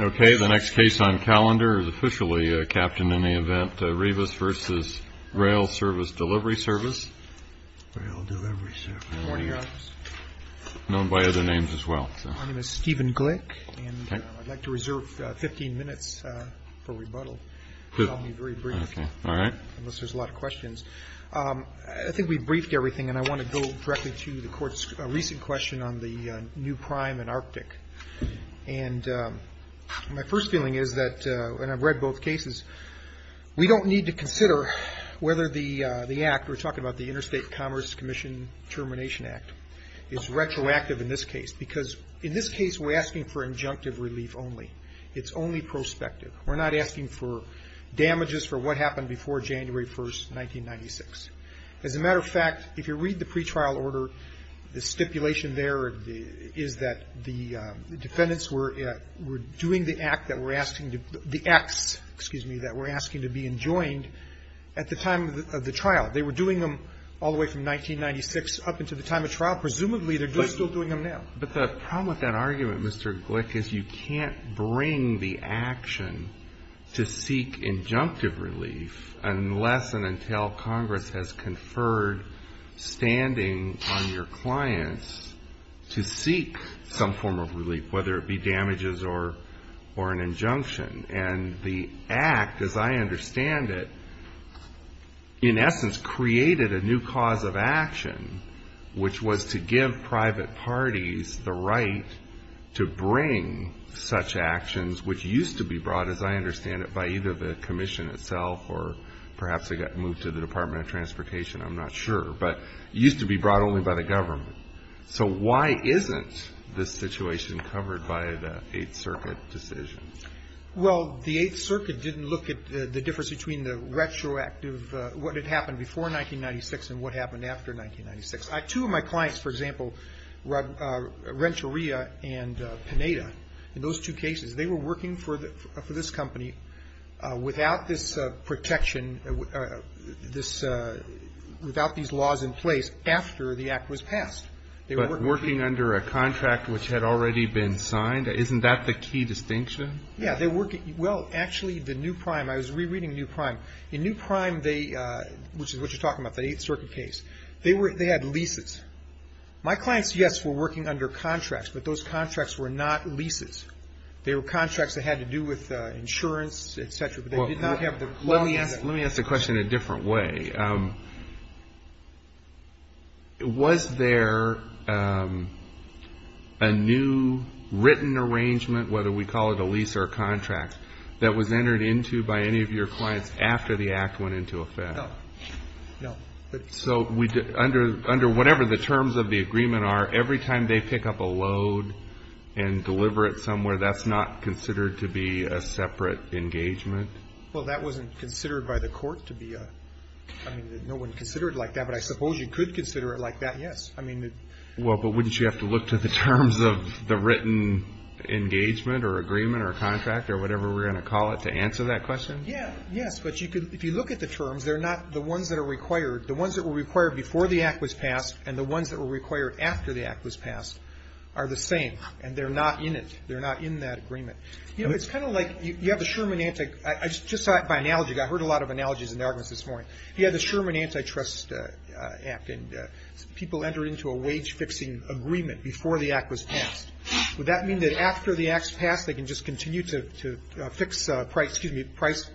Okay, the next case on calendar is officially captained in the event of Rebus v. Rail Service Delivery Service. Rail Delivery Service. Morning, Your Honor. Known by other names as well. My name is Stephen Glick, and I'd like to reserve 15 minutes for rebuttal. Okay, all right. Unless there's a lot of questions. I think we've briefed everything, and I want to go directly to the Court's recent question on the new prime in Arctic. And my first feeling is that, and I've read both cases, we don't need to consider whether the Act, we're talking about the Interstate Commerce Commission Termination Act, is retroactive in this case. Because in this case, we're asking for injunctive relief only. It's only prospective. We're not asking for damages for what happened before January 1, 1996. As a matter of fact, if you read the pretrial order, the stipulation there is that the defendants were doing the act that we're asking to, the acts, excuse me, that we're asking to be enjoined at the time of the trial. They were doing them all the way from 1996 up until the time of trial. Presumably, they're still doing them now. But the problem with that argument, Mr. Glick, is you can't bring the action to seek injunctive relief unless and until Congress has conferred standing on your clients to seek some form of relief, whether it be damages or an injunction. And the Act, as I understand it, in essence created a new cause of action, which was to give private parties the right to bring such actions, which used to be brought, as I understand it, by either the commission itself or perhaps it got moved to the Department of Transportation. I'm not sure. But it used to be brought only by the government. So why isn't this situation covered by the Eighth Circuit decision? Well, the Eighth Circuit didn't look at the difference between the retroactive, what had happened before 1996 and what happened after 1996. Two of my clients, for example, Renteria and Pineda, in those two cases, they were working for this company without this protection, without these laws in place after the Act was passed. But working under a contract which had already been signed, isn't that the key distinction? Yeah. Well, actually, the New Prime, I was rereading New Prime. In New Prime, which is what you're talking about, the Eighth Circuit case, they had leases. My clients, yes, were working under contracts, but those contracts were not leases. They were contracts that had to do with insurance, et cetera. But they did not have the leases. Let me ask the question in a different way. Was there a new written arrangement, whether we call it a lease or a contract, that was entered into by any of your clients after the Act went into effect? No. No. So under whatever the terms of the agreement are, every time they pick up a load and deliver it somewhere, that's not considered to be a separate engagement? Well, that wasn't considered by the court to be a – I mean, no one considered it like that. But I suppose you could consider it like that, yes. Well, but wouldn't you have to look to the terms of the written engagement or agreement or contract or whatever we're going to call it to answer that question? Yeah, yes. But if you look at the terms, they're not the ones that are required. The ones that were required before the Act was passed and the ones that were required after the Act was passed are the same, and they're not in it. They're not in that agreement. You know, it's kind of like you have the Sherman – I just saw it by analogy. I heard a lot of analogies in the audience this morning. You had the Sherman Antitrust Act, and people entered into a wage-fixing agreement before the Act was passed. Would that mean that after the Act's passed, they can just continue to fix prices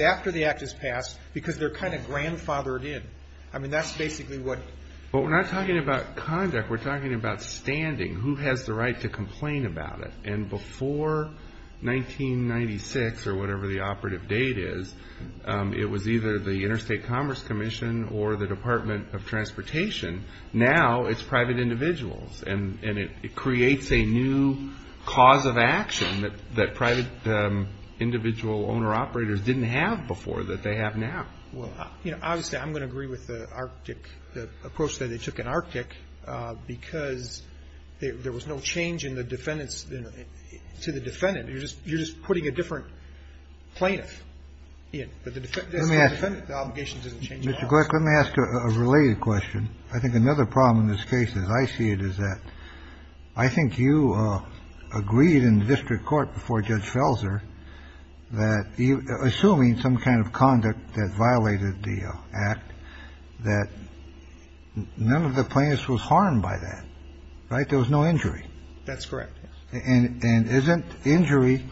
after the Act has passed because they're kind of grandfathered in? I mean, that's basically what – Well, we're not talking about conduct. We're talking about standing. Who has the right to complain about it? And before 1996 or whatever the operative date is, it was either the Interstate Commerce Commission or the Department of Transportation. Now it's private individuals, and it creates a new cause of action that private individual owner-operators didn't have before that they have now. Well, you know, obviously I'm going to agree with the Arctic, the approach that they took in Arctic, because there was no change in the defendant's – to the defendant. You're just putting a different plaintiff in. Let me ask you a related question. I think another problem in this case, as I see it, is that I think you agreed in the district court before Judge Felser that, assuming some kind of conduct that violated the Act, that none of the plaintiffs was harmed by that, right? There was no injury. That's correct. And isn't injury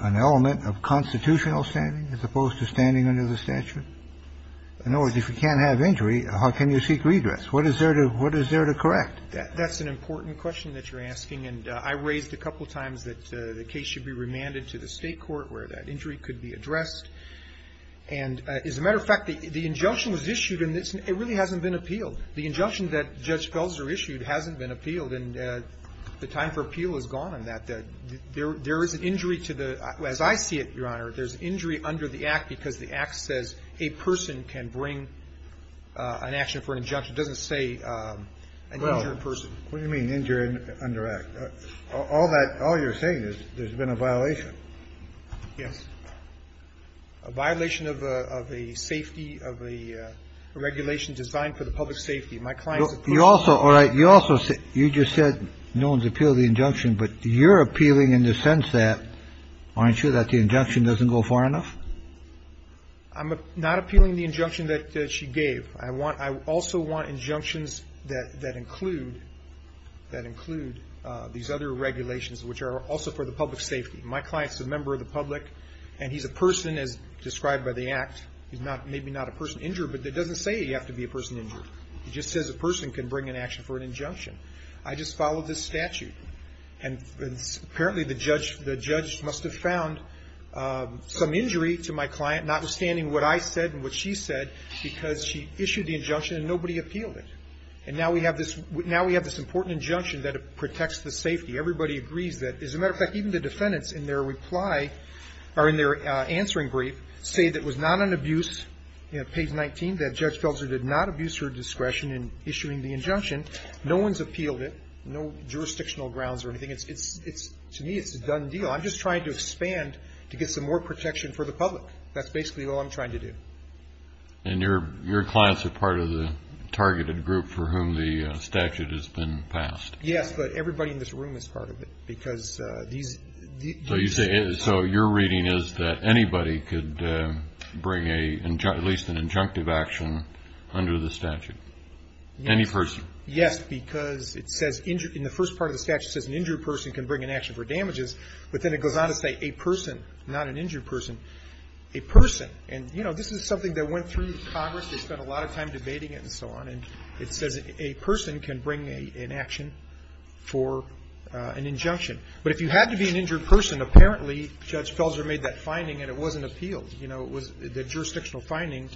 an element of constitutional standing as opposed to standing under the statute? In other words, if you can't have injury, how can you seek redress? What is there to correct? That's an important question that you're asking. And I raised a couple times that the case should be remanded to the state court where that injury could be addressed. And as a matter of fact, the injunction was issued, and it really hasn't been appealed. The injunction that Judge Felser issued hasn't been appealed, and the time for appeal is gone on that. There is an injury to the – as I see it, Your Honor, there's injury under the Act because the Act says a person can bring an action for an injunction. It doesn't say an injured person. What do you mean injured under Act? All that – all you're saying is there's been a violation. Yes. A violation of a safety – of a regulation designed for the public safety. My client's a police officer. You also – all right. You also – you just said no one's appealed the injunction, but you're appealing in the sense that, aren't you, that the injunction doesn't go far enough? I'm not appealing the injunction that she gave. I want – I also want injunctions that include these other regulations, which are also for the public safety. My client's a member of the public, and he's a person, as described by the Act. He's not – maybe not a person injured, but it doesn't say you have to be a person injured. It just says a person can bring an action for an injunction. I just followed this statute, and apparently the judge must have found some injury to my client, notwithstanding what I said and what she said, because she issued the injunction and nobody appealed it. And now we have this – now we have this important injunction that protects the safety. Everybody agrees that. As a matter of fact, even the defendants in their reply – or in their answering brief say that it was not an abuse. You know, page 19, that Judge Felger did not abuse her discretion in issuing the injunction. No one's appealed it. No jurisdictional grounds or anything. It's – it's – to me, it's a done deal. I'm just trying to expand to get some more protection for the public. That's basically all I'm trying to do. And your – your clients are part of the targeted group for whom the statute has been passed? Yes, but everybody in this room is part of it, because these – these – So you say – so your reading is that anybody could bring a – at least an injunctive action under the statute? Yes. Any person? Yes, because it says – in the first part of the statute, it says an injured person can bring an action for damages. But then it goes on to say a person, not an injured person. A person. And, you know, this is something that went through Congress. They spent a lot of time debating it and so on. And it says a person can bring an action for an injunction. But if you had to be an injured person, apparently Judge Felger made that finding and it wasn't appealed. You know, it was – the jurisdictional finding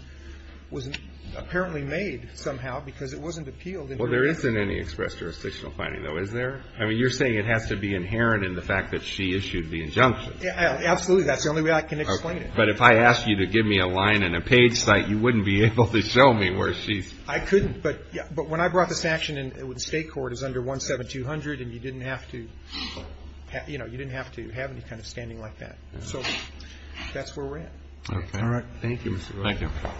was apparently made somehow, because it wasn't appealed. Well, there isn't any expressed jurisdictional finding, though, is there? I mean, you're saying it has to be inherent in the fact that she issued the injunction. Absolutely. That's the only way I can explain it. Okay. But if I asked you to give me a line and a page site, you wouldn't be able to show me where she's – I couldn't. But when I brought this action in, the State court is under 17200, and you didn't have to – you know, you didn't have to have any kind of standing like that. So that's where we're at. Okay. All right. Thank you, Mr. Williams. Thank you.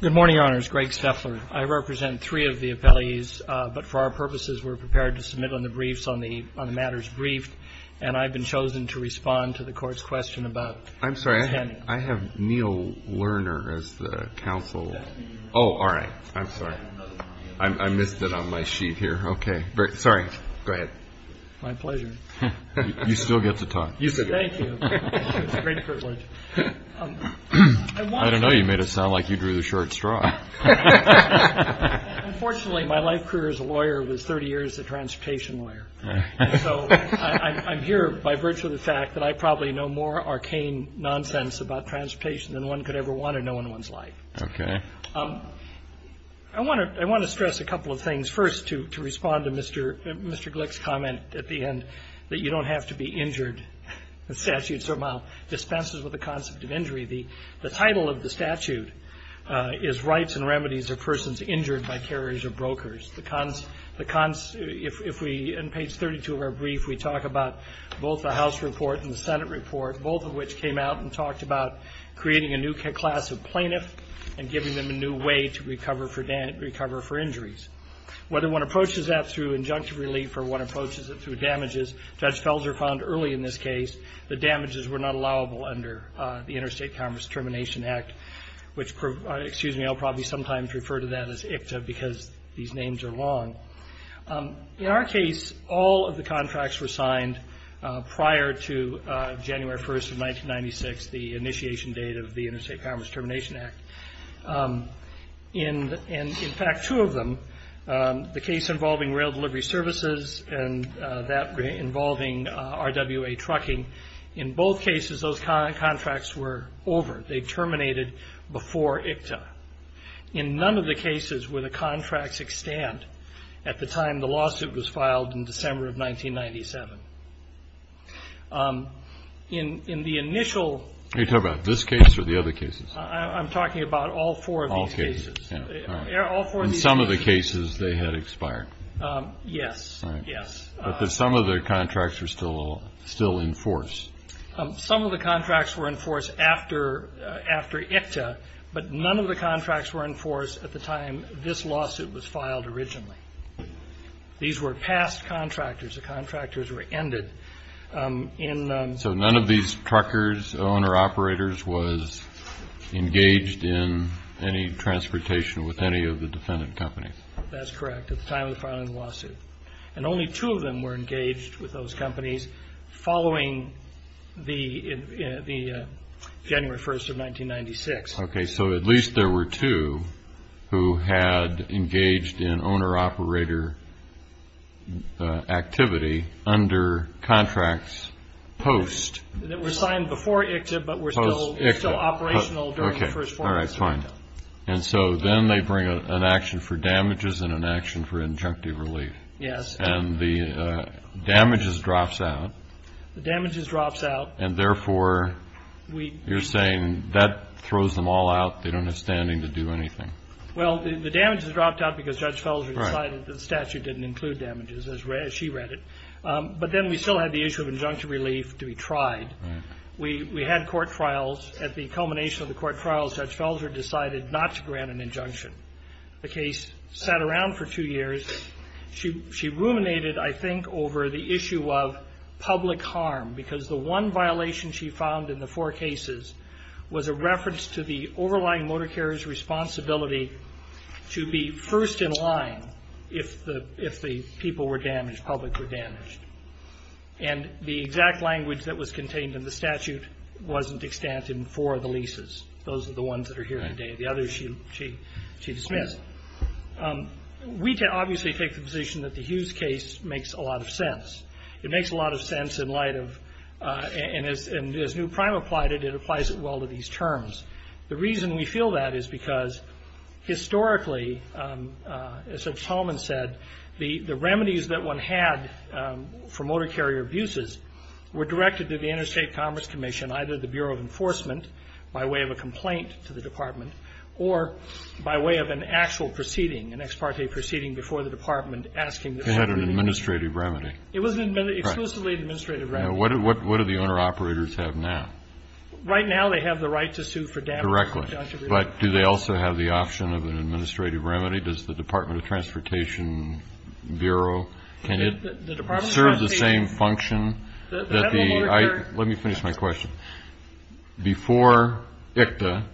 Good morning, Your Honors. Greg Steffler. I represent three of the appellees, but for our purposes, we're prepared to submit on the briefs on the matters briefed, and I've been chosen to respond to the Court's question about standing. I'm sorry. I have Neil Lerner as the counsel. Oh, all right. I'm sorry. I missed it on my sheet here. Okay. Sorry. Go ahead. My pleasure. You still get to talk. Thank you. It's a great privilege. I don't know. You made it sound like you drew the short straw. Unfortunately, my life career as a lawyer was 30 years as a transportation lawyer. And so I'm here by virtue of the fact that I probably know more arcane nonsense about transportation than one could ever want to know in one's life. Okay. I want to stress a couple of things. First, to respond to Mr. Glick's comment at the end that you don't have to be injured. The statute somehow dispenses with the concept of injury. The title of the statute is Rights and Remedies of Persons Injured by Carriers or Brokers. If we, on page 32 of our brief, we talk about both the House report and the Senate report, both of which came out and talked about creating a new class of plaintiff and giving them a new way to recover for injuries. Whether one approaches that through injunctive relief or one approaches it through damages, Judge Felger found early in this case that damages were not allowable under the Interstate Commerce Termination Act, which, excuse me, I'll probably sometimes refer to that as ICTA because these names are long. In our case, all of the contracts were signed prior to January 1st of 1996, the initiation date of the Interstate Commerce Termination Act. In fact, two of them, the case involving rail delivery services and that involving RWA trucking, in both cases those contracts were over. They terminated before ICTA. In none of the cases were the contracts extant at the time the lawsuit was filed in December of 1997. In the initial… You're talking about this case or the other cases? I'm talking about all four of these cases. All four of these cases. In some of the cases they had expired. Yes, yes. But some of the contracts were still in force. Some of the contracts were in force after ICTA, but none of the contracts were in force at the time this lawsuit was filed originally. These were past contractors. The contractors were ended in… So none of these truckers, owner-operators, was engaged in any transportation with any of the defendant companies. And only two of them were engaged with those companies following the January 1st of 1996. Okay, so at least there were two who had engaged in owner-operator activity under contracts post… That were signed before ICTA but were still operational during the first four months of ICTA. Okay, all right, fine. And so then they bring an action for damages and an action for injunctive relief. Yes. And the damages drops out. The damages drops out. And therefore, you're saying that throws them all out. They don't have standing to do anything. Well, the damages dropped out because Judge Felser decided the statute didn't include damages, as she read it. But then we still had the issue of injunctive relief to be tried. We had court trials. At the culmination of the court trials, Judge Felser decided not to grant an injunction. The case sat around for two years. She ruminated, I think, over the issue of public harm because the one violation she found in the four cases was a reference to the overlying motor carrier's responsibility to be first in line if the people were damaged, public were damaged. And the exact language that was contained in the statute wasn't extant in four of the leases. Those are the ones that are here today. The others she dismissed. We obviously take the position that the Hughes case makes a lot of sense. It makes a lot of sense in light of, and as New Prime applied it, it applies it well to these terms. The reason we feel that is because historically, as Judge Tolman said, the remedies that one had for motor carrier abuses were directed to the Interstate Commerce Commission, either the Bureau of Enforcement by way of a complaint to the department or by way of an actual proceeding, an ex parte proceeding before the department, asking the subpoena. They had an administrative remedy. It was an exclusively administrative remedy. What do the owner-operators have now? Right now they have the right to sue for damage. Correctly. But do they also have the option of an administrative remedy? Does the Department of Transportation Bureau? Can it serve the same function? Let me finish my question. Before ICTA,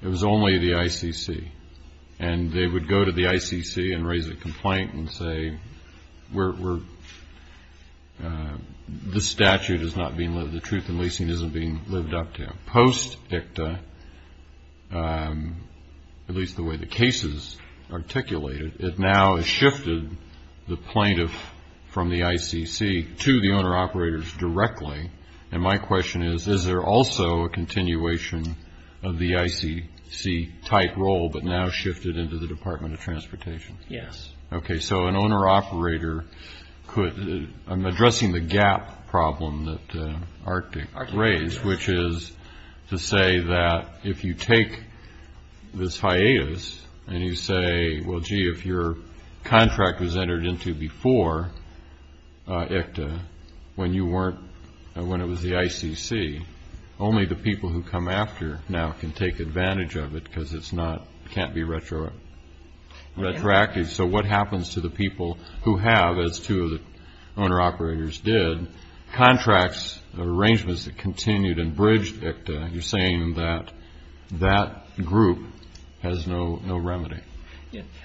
it was only the ICC, and they would go to the ICC and raise a complaint and say, the statute is not being lived, the truth in leasing isn't being lived up to. Post-ICTA, at least the way the case is articulated, it now has shifted the plaintiff from the ICC to the owner-operators directly. And my question is, is there also a continuation of the ICC-type role, but now shifted into the Department of Transportation? Yes. Okay. So an owner-operator could ‑‑I'm addressing the gap problem that Arctic raised, which is to say that if you take this hiatus and you say, well, gee, if your contract was entered into before ICTA when it was the ICC, only the people who come after now can take advantage of it because it can't be retroactive. So what happens to the people who have, as two of the owner-operators did, contracts arrangements that continued and bridged ICTA? You're saying that that group has no remedy.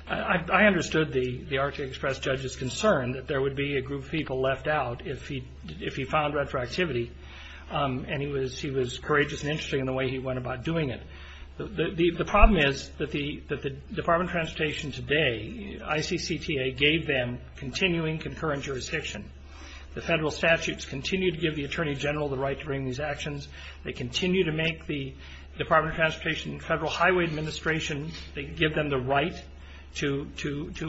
I understood the Arctic Express judge's concern that there would be a group of people left out if he found retroactivity, and he was courageous and interesting in the way he went about doing it. The problem is that the Department of Transportation today, ICCTA gave them continuing concurrent jurisdiction. The federal statutes continue to give the Attorney General the right to bring these actions. They continue to make the Department of Transportation and Federal Highway Administration, they give them the right to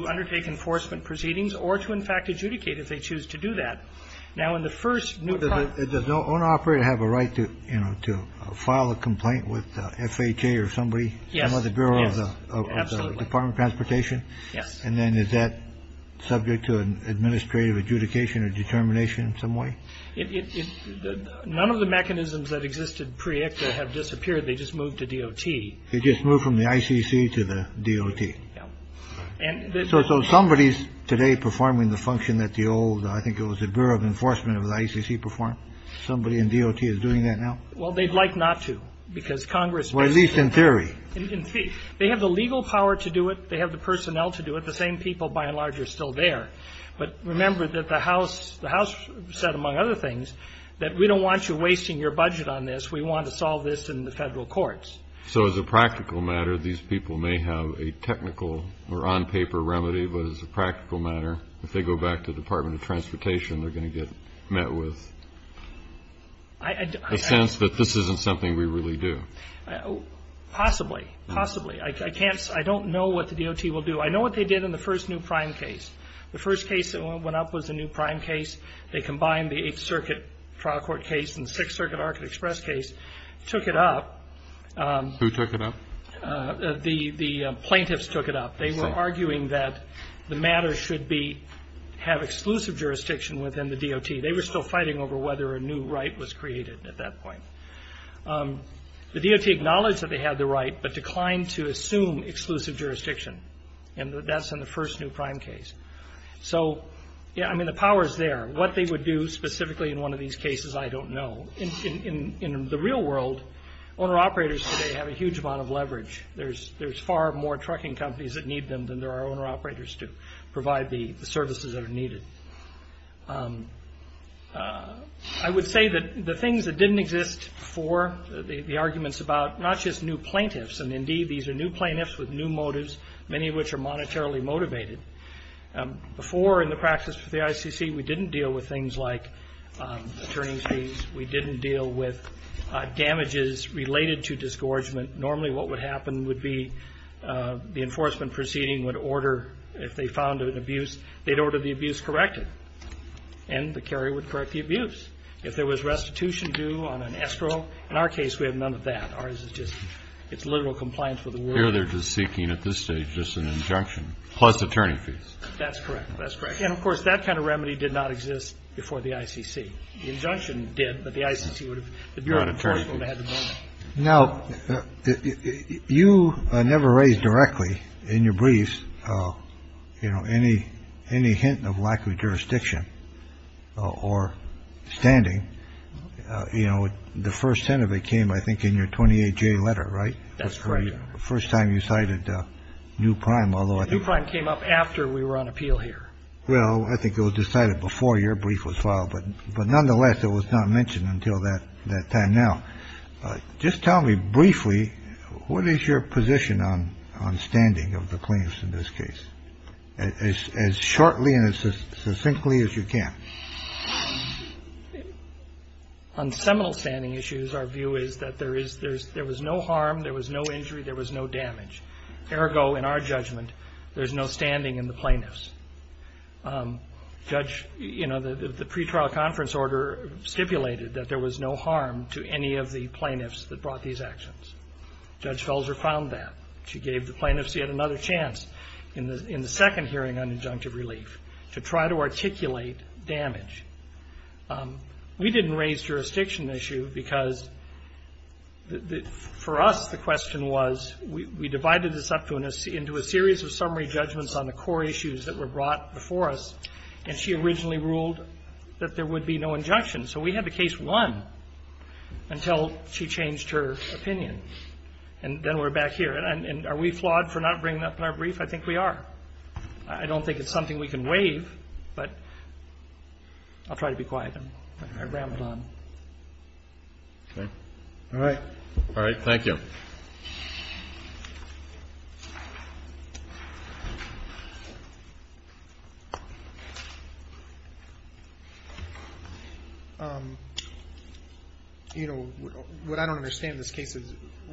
undertake enforcement proceedings or to, in fact, adjudicate if they choose to do that. Now, in the first new ‑‑ Does the owner-operator have a right to file a complaint with FHA or somebody, some other bureau of the Department of Transportation? Yes. And then is that subject to an administrative adjudication or determination in some way? None of the mechanisms that existed pre-ICTA have disappeared. They just moved to DOT. They just moved from the ICC to the DOT. Yeah. So somebody is today performing the function that the old, I think it was the Bureau of Enforcement of the ICC performed? Somebody in DOT is doing that now? Well, they'd like not to because Congress ‑‑ Well, at least in theory. In theory. They have the legal power to do it. They have the personnel to do it. The same people, by and large, are still there. But remember that the House said, among other things, that we don't want you wasting your budget on this. We want to solve this in the federal courts. So as a practical matter, these people may have a technical or on-paper remedy, but as a practical matter, if they go back to the Department of Transportation, they're going to get met with a sense that this isn't something we really do? Possibly. Possibly. I can't ‑‑ I don't know what the DOT will do. I know what they did in the first new prime case. The first case that went up was the new prime case. They combined the Eighth Circuit trial court case and the Sixth Circuit Arca Express case, took it up. Who took it up? The plaintiffs took it up. They were arguing that the matter should be ‑‑ have exclusive jurisdiction within the DOT. They were still fighting over whether a new right was created at that point. The DOT acknowledged that they had the right, but declined to assume exclusive jurisdiction, and that's in the first new prime case. So, yeah, I mean, the power is there. What they would do specifically in one of these cases, I don't know. In the real world, owner‑operators today have a huge amount of leverage. There's far more trucking companies that need them than there are owner‑operators to provide the services that are needed. I would say that the things that didn't exist before, the arguments about not just new plaintiffs, and indeed these are new plaintiffs with new motives, many of which are monetarily motivated. Before in the practice for the ICC, we didn't deal with things like attorney fees. We didn't deal with damages related to disgorgement. Normally what would happen would be the enforcement proceeding would order, if they found an abuse, they'd order the abuse corrected, and the carrier would correct the abuse. If there was restitution due on an escrow, in our case we had none of that. Ours is just, it's literal compliance with the rules. Here they're just seeking at this stage just an injunction, plus attorney fees. That's correct. That's correct. And, of course, that kind of remedy did not exist before the ICC. The injunction did, but the ICC would have, the Bureau of Enforcement would have had the money. Now, you never raised directly in your briefs, you know, any hint of lack of jurisdiction or standing. You know, the first hint of it came, I think, in your 28J letter, right? That's correct, Your Honor. The first time you cited new prime, although I think... The new prime came up after we were on appeal here. Well, I think it was decided before your brief was filed, but nonetheless it was not mentioned until that time. Now, just tell me briefly, what is your position on standing of the plaintiffs in this case? As shortly and as succinctly as you can. On seminal standing issues, our view is that there was no harm, there was no injury, there was no damage. Ergo, in our judgment, there's no standing in the plaintiffs. Judge, you know, the pretrial conference order stipulated that there was no harm to any of the plaintiffs that brought these actions. Judge Felzer found that. She gave the plaintiffs yet another chance in the second hearing on injunctive relief to try to articulate damage. We didn't raise jurisdiction issue because, for us, the question was, we divided this up into a series of summary judgments on the core issues that were brought before us, and she originally ruled that there would be no injunction. So we had the case won until she changed her opinion. And then we're back here. And are we flawed for not bringing up in our brief? I think we are. I don't think it's something we can waive, but I'll try to be quiet and ram it on. Okay. All right. All right. Thank you. You know, what I don't understand in this case is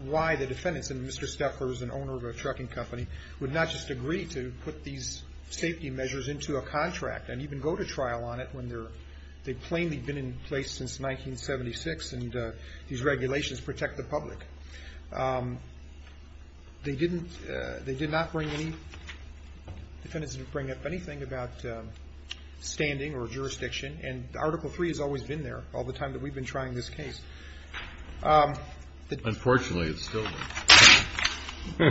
why the defendants, and Mr. Steffler is an owner of a trucking company, would not just agree to put these safety measures into a contract and even go to trial on it when they've plainly been in place since 1976 and these regulations protect the public. They didn't, they did not bring any, defendants didn't bring up anything about standing or jurisdiction, and Article III has always been there all the time that we've been trying this case. Unfortunately, it's still there.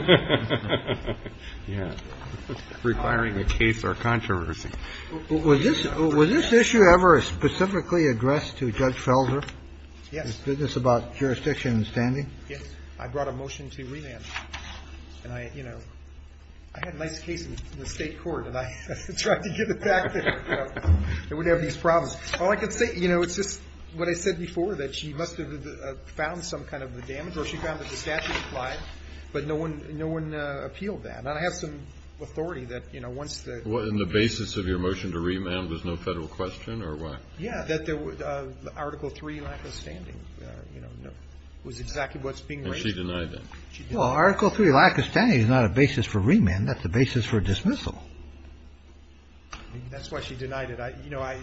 Yeah. Requiring a case or controversy. Was this issue ever specifically addressed to Judge Felder? Yes. Is this about jurisdiction and standing? Yes. I brought a motion to remand. And I, you know, I had a nice case in the State court, and I tried to get it back. It would have these problems. All I can say, you know, it's just what I said before, that she must have found some kind of a damage or she found that the statute applied, but no one appealed that. And I have some authority that, you know, once the ---- So your motion to remand was no federal question or what? Yeah, that there was Article III lack of standing, you know, was exactly what's being raised. And she denied that. Well, Article III lack of standing is not a basis for remand. That's a basis for dismissal. That's why she denied it. You know, I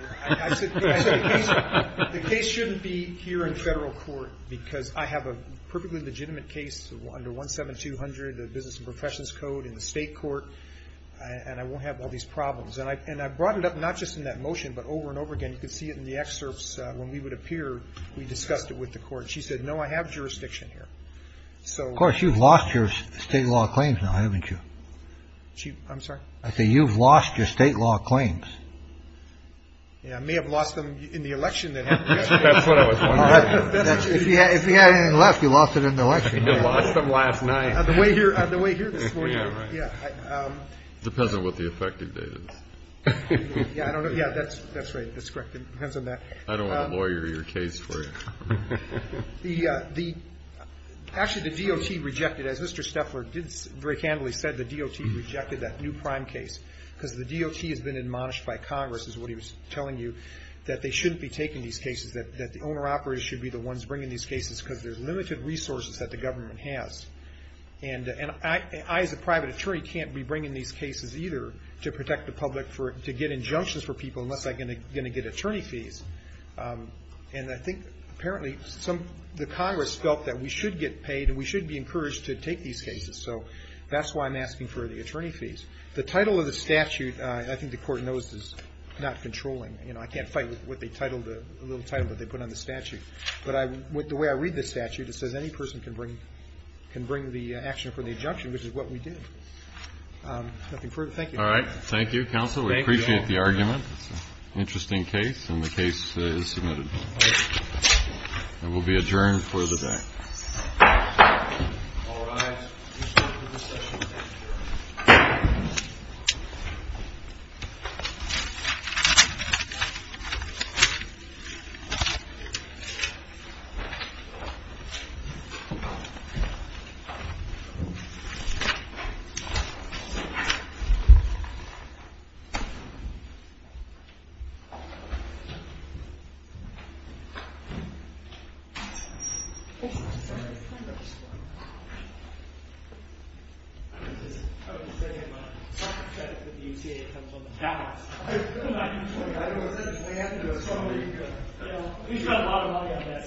said the case shouldn't be here in federal court because I have a perfectly legitimate case under 17200, a business and professions code in the State court, and I won't have all these problems. And I brought it up not just in that motion, but over and over again. You can see it in the excerpts when we would appear. We discussed it with the court. She said, no, I have jurisdiction here. Of course, you've lost your state law claims now, haven't you? I'm sorry? I say you've lost your state law claims. Yeah, I may have lost them in the election that happened yesterday. That's what I was wondering. If he had anything left, he lost it in the election. He lost them last night. On the way here this morning. Yeah. It depends on what the effective date is. Yeah, I don't know. Yeah, that's right. That's correct. It depends on that. I don't want to lawyer your case for you. Actually, the DOT rejected, as Mr. Steffler very candidly said, the DOT rejected that new prime case because the DOT has been admonished by Congress, is what he was telling you, that they shouldn't be taking these cases, that the owner-operators should be the ones bringing these cases because there's limited resources that the government has. And I, as a private attorney, can't be bringing these cases either to protect the public, to get injunctions for people unless I'm going to get attorney fees. And I think, apparently, the Congress felt that we should get paid and we should be encouraged to take these cases. So that's why I'm asking for the attorney fees. The title of the statute, I think the Court knows, is not controlling. You know, I can't fight with what they titled, the little title that they put on the statute. But the way I read the statute, it says any person can bring the action for the injunction, which is what we did. Nothing further. Thank you. Thank you, counsel. We appreciate the argument. It's an interesting case, and the case is submitted. It will be adjourned for the day. All rise. Thank you.